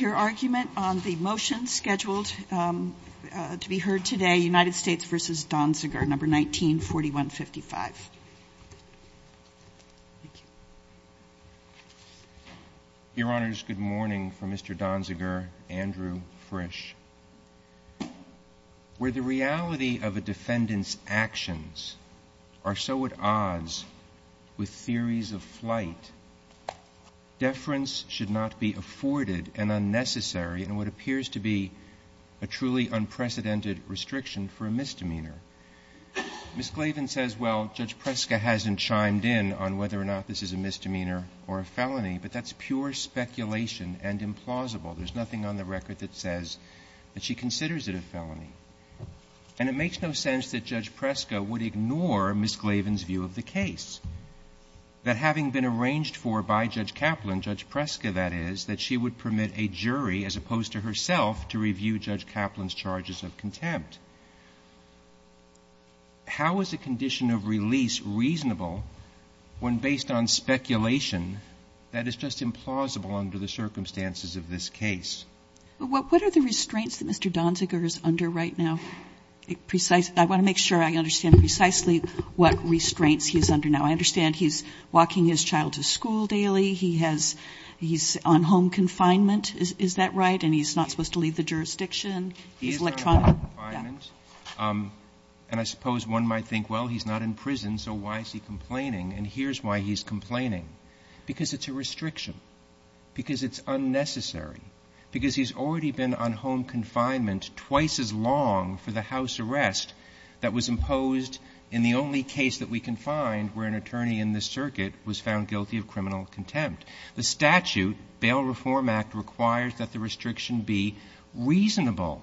your argument on the motion scheduled to be heard today, United States v. Donziger, No. 19-4155. Your Honors, good morning. For Mr. Donziger, Andrew Frisch. Where the reality of a defendant's actions are so at odds with theories of flight, deference should not be afforded, and unnecessary in what appears to be a truly unprecedented restriction for a misdemeanor. Ms. Glavin says, well, Judge Preska hasn't chimed in on whether or not this is a misdemeanor or a felony, but that's pure speculation and implausible. There's nothing on the record that says that she considers it a felony. And it makes no sense that Judge Preska would ignore Ms. Glavin's view of the case. That having been arranged for by Judge Kaplan, Judge Preska, that is, that she would permit a jury, as opposed to herself, to review Judge Kaplan's charges of contempt. How is a condition of release reasonable when, based on speculation, that is just implausible under the circumstances of this case? What are the restraints that Mr. Donziger is under right now? I want to make sure I understand precisely what restraints he is under now. I understand he's walking his child to school daily. He's on home confinement, is that right? And he's not supposed to leave the jurisdiction. He's electronic. He is on home confinement. And I suppose one might think, well, he's not in prison, so why is he complaining? And here's why he's complaining. Because it's a restriction. Because it's unnecessary. Because he's already been on home confinement twice as long for the House arrest that was imposed in the only case that we can find where an attorney in this circuit was found guilty of criminal contempt. The statute, Bail Reform Act, requires that the restriction be reasonable.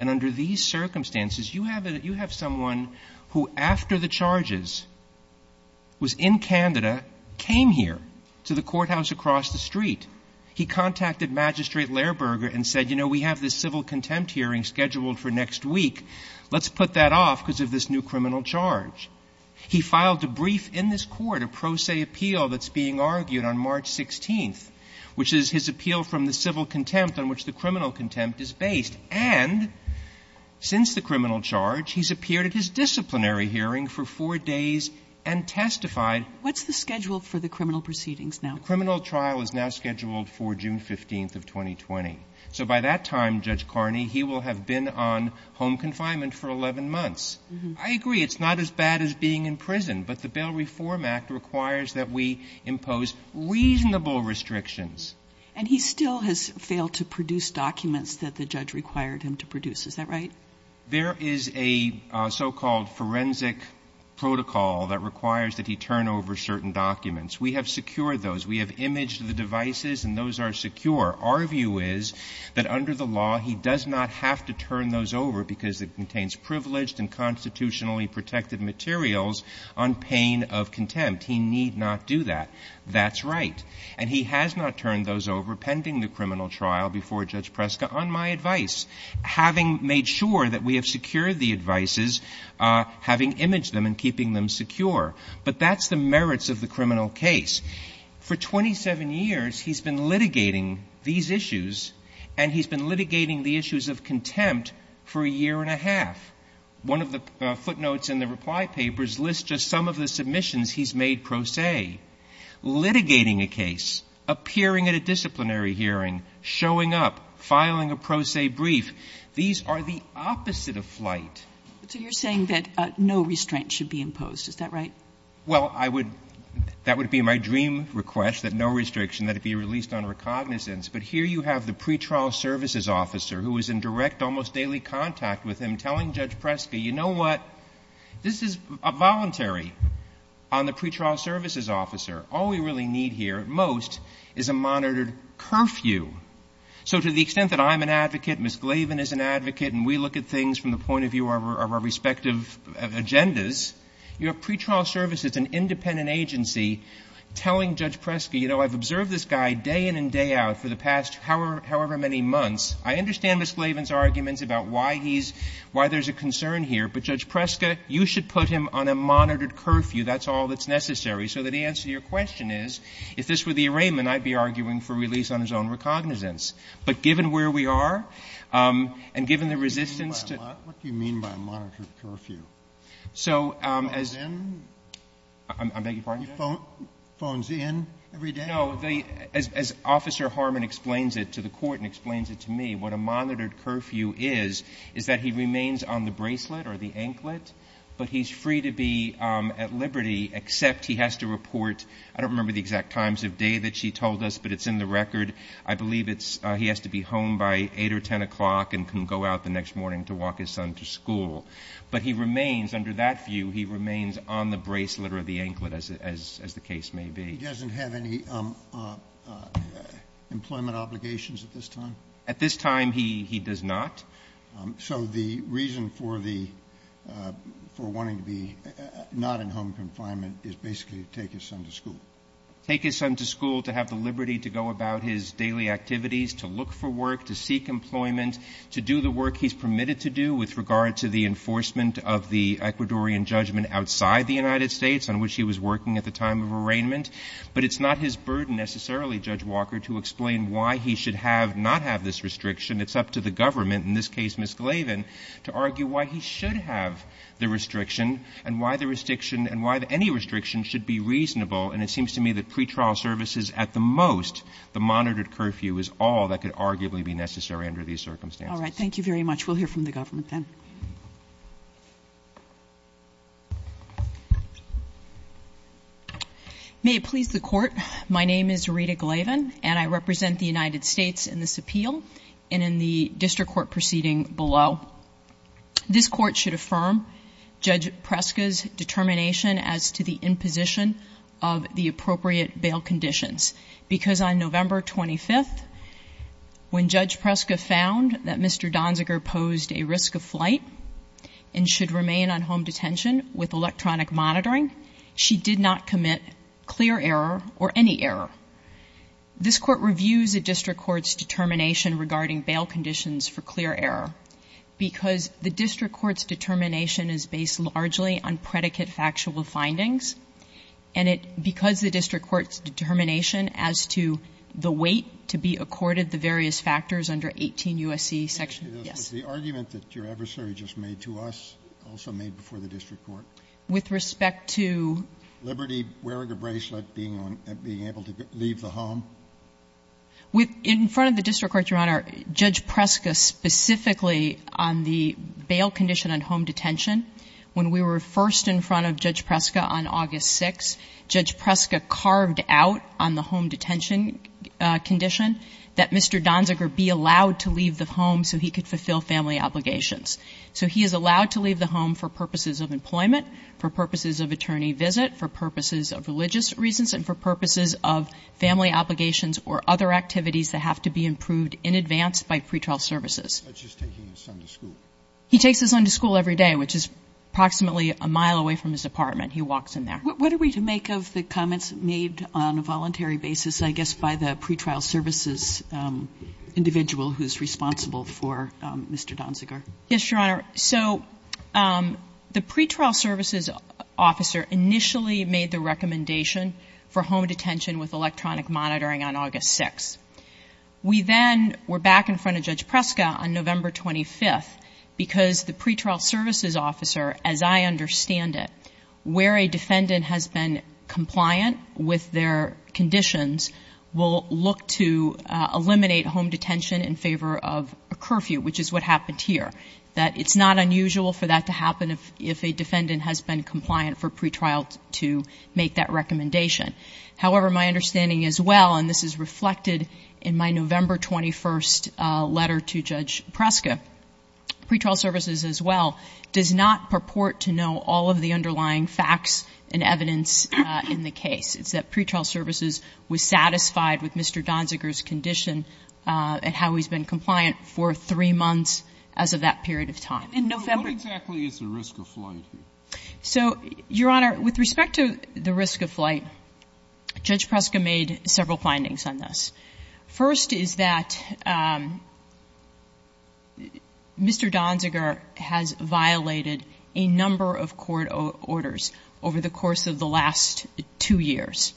And under these circumstances, you have someone who, after the charges, was in Canada, came here to the courthouse across the street. He contacted Magistrate Lehrberger and said, you know, we have this civil contempt hearing scheduled for next week. Let's put that off because of this new criminal charge. He filed a brief in this Court, a pro se appeal that's being argued on March 16th, which is his appeal from the civil contempt on which the criminal contempt is based. And since the criminal charge, he's appeared at his disciplinary hearing for four days and testified. What's the schedule for the criminal proceedings now? The criminal trial is now scheduled for June 15th of 2020. So by that time, Judge Carney, he will have been on home confinement for 11 months. I agree, it's not as bad as being in prison. But the Bail Reform Act requires that we impose reasonable restrictions. And he still has failed to produce documents that the judge required him to produce. Is that right? There is a so-called forensic protocol that requires that he turn over certain documents. We have secured those. We have imaged the devices and those are secure. Our view is that under the law, he does not have to turn those over because it contains privileged and constitutionally protected materials on pain of contempt. He need not do that. That's right. And he has not turned those over pending the criminal trial before Judge Preska, on my advice, having made sure that we have secured the devices, having imaged them and keeping them secure. But that's the merits of the criminal case. For 27 years, he's been litigating these issues and he's been litigating the issues of contempt for a year and a half. One of the footnotes in the reply papers lists just some of the submissions he's made pro se, litigating a case, appearing at a disciplinary hearing, showing up, filing a pro se brief. These are the opposite of flight. So you're saying that no restraint should be imposed. Is that right? Well, I would, that would be my dream request, that no restriction, that it be released on recognizance. But here you have the pretrial services officer who is in direct, almost daily contact with him, telling Judge Preska, you know what, this is a voluntary on the pretrial services officer. All we really need here, at most, is a monitored curfew. So to the extent that I'm an advocate, Ms. Glavin is an advocate, and we look at things from the point of view of our respective agendas, you have pretrial services, an independent agency, telling Judge Preska, you know, I've observed this guy day in and day out for the past however many months. I understand Ms. Glavin's arguments about why he's, why there's a concern here, but Judge Preska, you should put him on a monitored curfew. That's all that's necessary. So the answer to your question is, if this were the arraignment, I'd be arguing for release on his own recognizance. But given where we are, and given the resistance to... What do you mean by a monitored curfew? So, as... Phones in? I beg your pardon, Judge? Phones in every day? No, as Officer Harmon explains it to the court and explains it to me, what a monitored curfew is, is that he remains on the bracelet or the anklet, but he's free to be at liberty, except he has to report, I don't remember the exact times of day that she told us, but it's in the record. I believe it's, he has to be home by 8 or 10 o'clock and can go out the next morning to walk his son to school. But he remains, under that view, he remains on the bracelet or the anklet, as the case may be. He doesn't have any employment obligations at this time? At this time, he does not. So the reason for the, for wanting to be not in home confinement is basically to take his son to school? Take his son to school to have the liberty to go about his daily activities, to look for work, to seek employment, to do the work he's permitted to do with regard to the enforcement of the Ecuadorian judgment outside the United States, on which he was working at the time of arraignment. But it's not his burden necessarily, Judge Walker, to explain why he should have, not have this restriction. It's up to the government, in this case Ms. Glavin, to argue why he should have the restriction and why the restriction and why any restriction should be reasonable. And it seems to me that pretrial services, at the most, the monitored curfew is all that could arguably be necessary under these circumstances. All right. Thank you very much. We'll hear from the government then. May it please the Court, my name is Rita Glavin and I represent the United States in this appeal and in the District Court proceeding below. This Court should affirm Judge Preska's determination as to the imposition of the appropriate bail conditions. Because on November 25th, when Judge Preska found that Mr. Donziger posed a risk of flight and should remain on home detention with electronic monitoring, she did not commit clear error or any error. This Court reviews the District Court's determination regarding bail conditions for clear error. Because the District Court's determination is based largely on predicate factual findings and it, because the District Court's determination as to the weight to be accorded the various factors under 18 U.S.C. section, yes. The argument that your adversary just made to us, also made before the District Court. With respect to? Liberty wearing a bracelet, being on, being able to leave the home. With, in front of the District Court, Your Honor, Judge Preska specifically on the bail condition on home detention, when we were first in front of Judge Preska on August 6th, Judge Preska carved out on the home detention condition that Mr. Donziger be allowed to leave the home so he could fulfill family obligations. So he is allowed to leave the home for purposes of employment, for purposes of attorney visit, for purposes of religious reasons, and for purposes of family obligations or other activities that have to be improved in advance by pretrial services. Such as taking his son to school. He takes his son to school every day, which is approximately a mile away from his apartment. He walks in there. What are we to make of the comments made on a voluntary basis, I guess, by the pretrial services individual who's responsible for Mr. Donziger? Yes, Your Honor. So the pretrial services officer initially made the recommendation for home detention with electronic monitoring on August 6th. We then were back in front of Judge Preska on November 25th because the pretrial services officer, as I understand it, where a defendant has been compliant with their conditions, will look to eliminate home detention in favor of a curfew, which is what happened here. That it's not unusual for that to happen if a defendant has been compliant for pretrial to make that recommendation. However, my understanding as well, and this is reflected in my November 21st letter to Judge Preska, pretrial services as well does not purport to know all of the underlying facts and evidence in the case. It's that pretrial services was satisfied with Mr. Donziger's condition and how he's been compliant for three months as of that period of time. In November? What exactly is the risk of flight here? So, Your Honor, with respect to the risk of flight, Judge Preska made several findings on this. First is that Mr. Donziger has violated a number of court orders over the course of the last two years.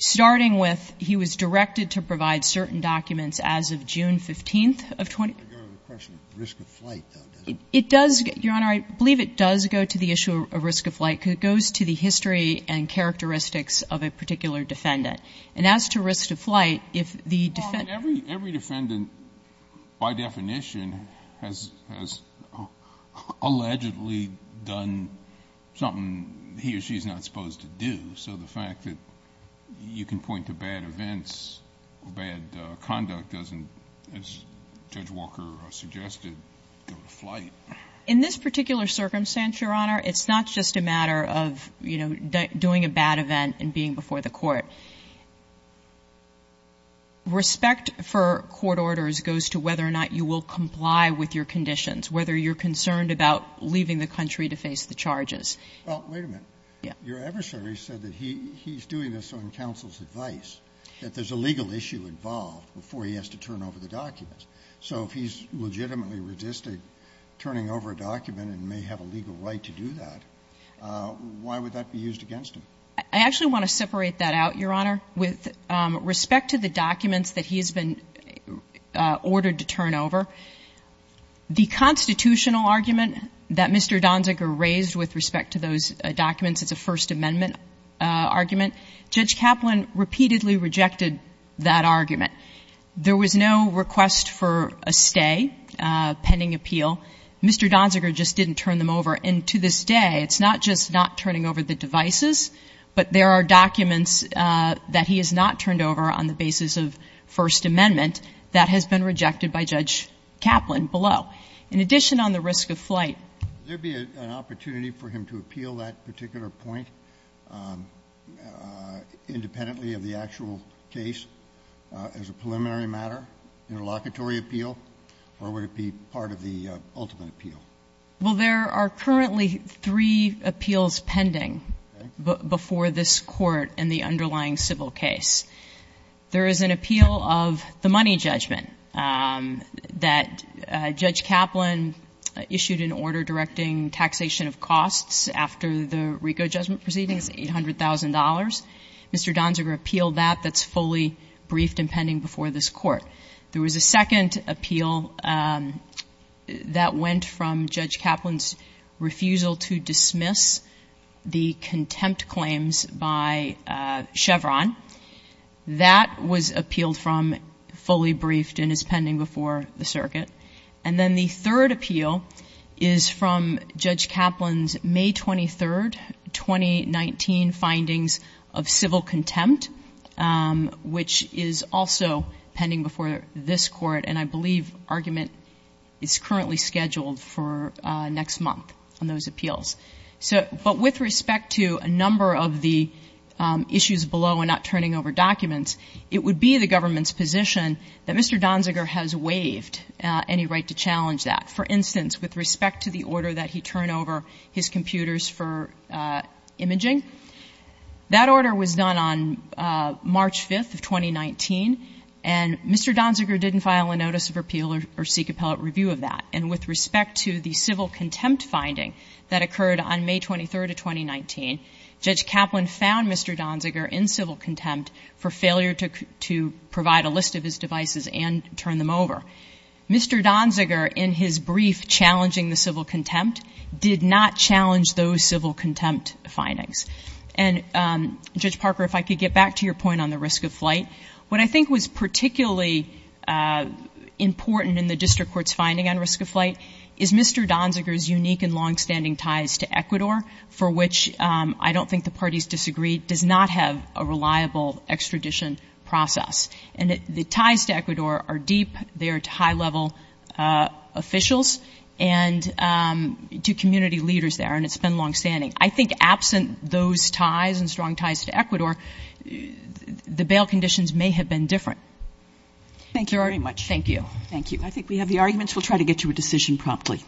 Starting with, he was directed to provide certain documents as of June 15th of 2012. Your Honor, I believe it does go to the issue of risk of flight. It goes to the history and characteristics of a particular defendant. And as to risk of flight, if the defendant Every defendant, by definition, has allegedly done something he or she is not supposed to do. So the fact that you can point to bad events or bad conduct doesn't, as Judge Walker suggested, go to flight. In this particular circumstance, Your Honor, it's not just a matter of, you know, goes to whether or not you will comply with your conditions, whether you're concerned about leaving the country to face the charges. Well, wait a minute. Yeah. Your adversary said that he's doing this on counsel's advice, that there's a legal issue involved before he has to turn over the documents. So if he's legitimately resisting turning over a document and may have a legal right to do that, why would that be used against him? I actually want to separate that out, Your Honor, with respect to the documents that he has been ordered to turn over. The constitutional argument that Mr. Donziger raised with respect to those documents is a First Amendment argument. Judge Kaplan repeatedly rejected that argument. There was no request for a stay pending appeal. Mr. Donziger just didn't turn them over. And to this day, it's not just not turning over the devices, but there are documents that he has not turned over on the basis of First Amendment that has been rejected by Judge Kaplan below. In addition, on the risk of flight. Would there be an opportunity for him to appeal that particular point independently of the actual case as a preliminary matter in a locatory appeal, or would it be part of the ultimate appeal? Well, there are currently three appeals pending before this Court in the underlying civil case. There is an appeal of the money judgment that Judge Kaplan issued an order directing taxation of costs after the RICO judgment proceedings, $800,000. Mr. Donziger appealed that. That's fully briefed and pending before this Court. There was a second appeal that went from Judge Kaplan's refusal to dismiss the contempt claims by Chevron. That was appealed from fully briefed and is pending before the circuit. And then the third appeal is from Judge Kaplan's May 23rd, 2019 findings of civil contempt, which is also pending before this Court. And I believe argument is currently scheduled for next month on those appeals. But with respect to a number of the issues below and not turning over documents, it would be the government's position that Mr. Donziger has waived any right to challenge that. For instance, with respect to the order that he turn over his computers for imaging, that order was done on March 5th of 2019, and Mr. Donziger didn't file a notice of appeal or seek appellate review of that. And with respect to the civil contempt finding that occurred on May 23rd of 2019, Judge Kaplan found Mr. Donziger in civil contempt for failure to provide a list of his devices and turn them over. Mr. Donziger, in his brief challenging the civil contempt, did not challenge those civil contempt findings. And, Judge Parker, if I could get back to your point on the risk of flight. What I think was particularly important in the district court's finding on risk of flight is Mr. Donziger's unique and longstanding ties to Ecuador, for which I don't think the parties disagree, does not have a reliable extradition process. And the ties to Ecuador are deep. They are high-level officials and to community leaders there. And it's been longstanding. I think absent those ties and strong ties to Ecuador, the bail conditions may have been different. Thank you very much. Thank you. Thank you. I think we have the arguments. We'll try to get you a decision promptly.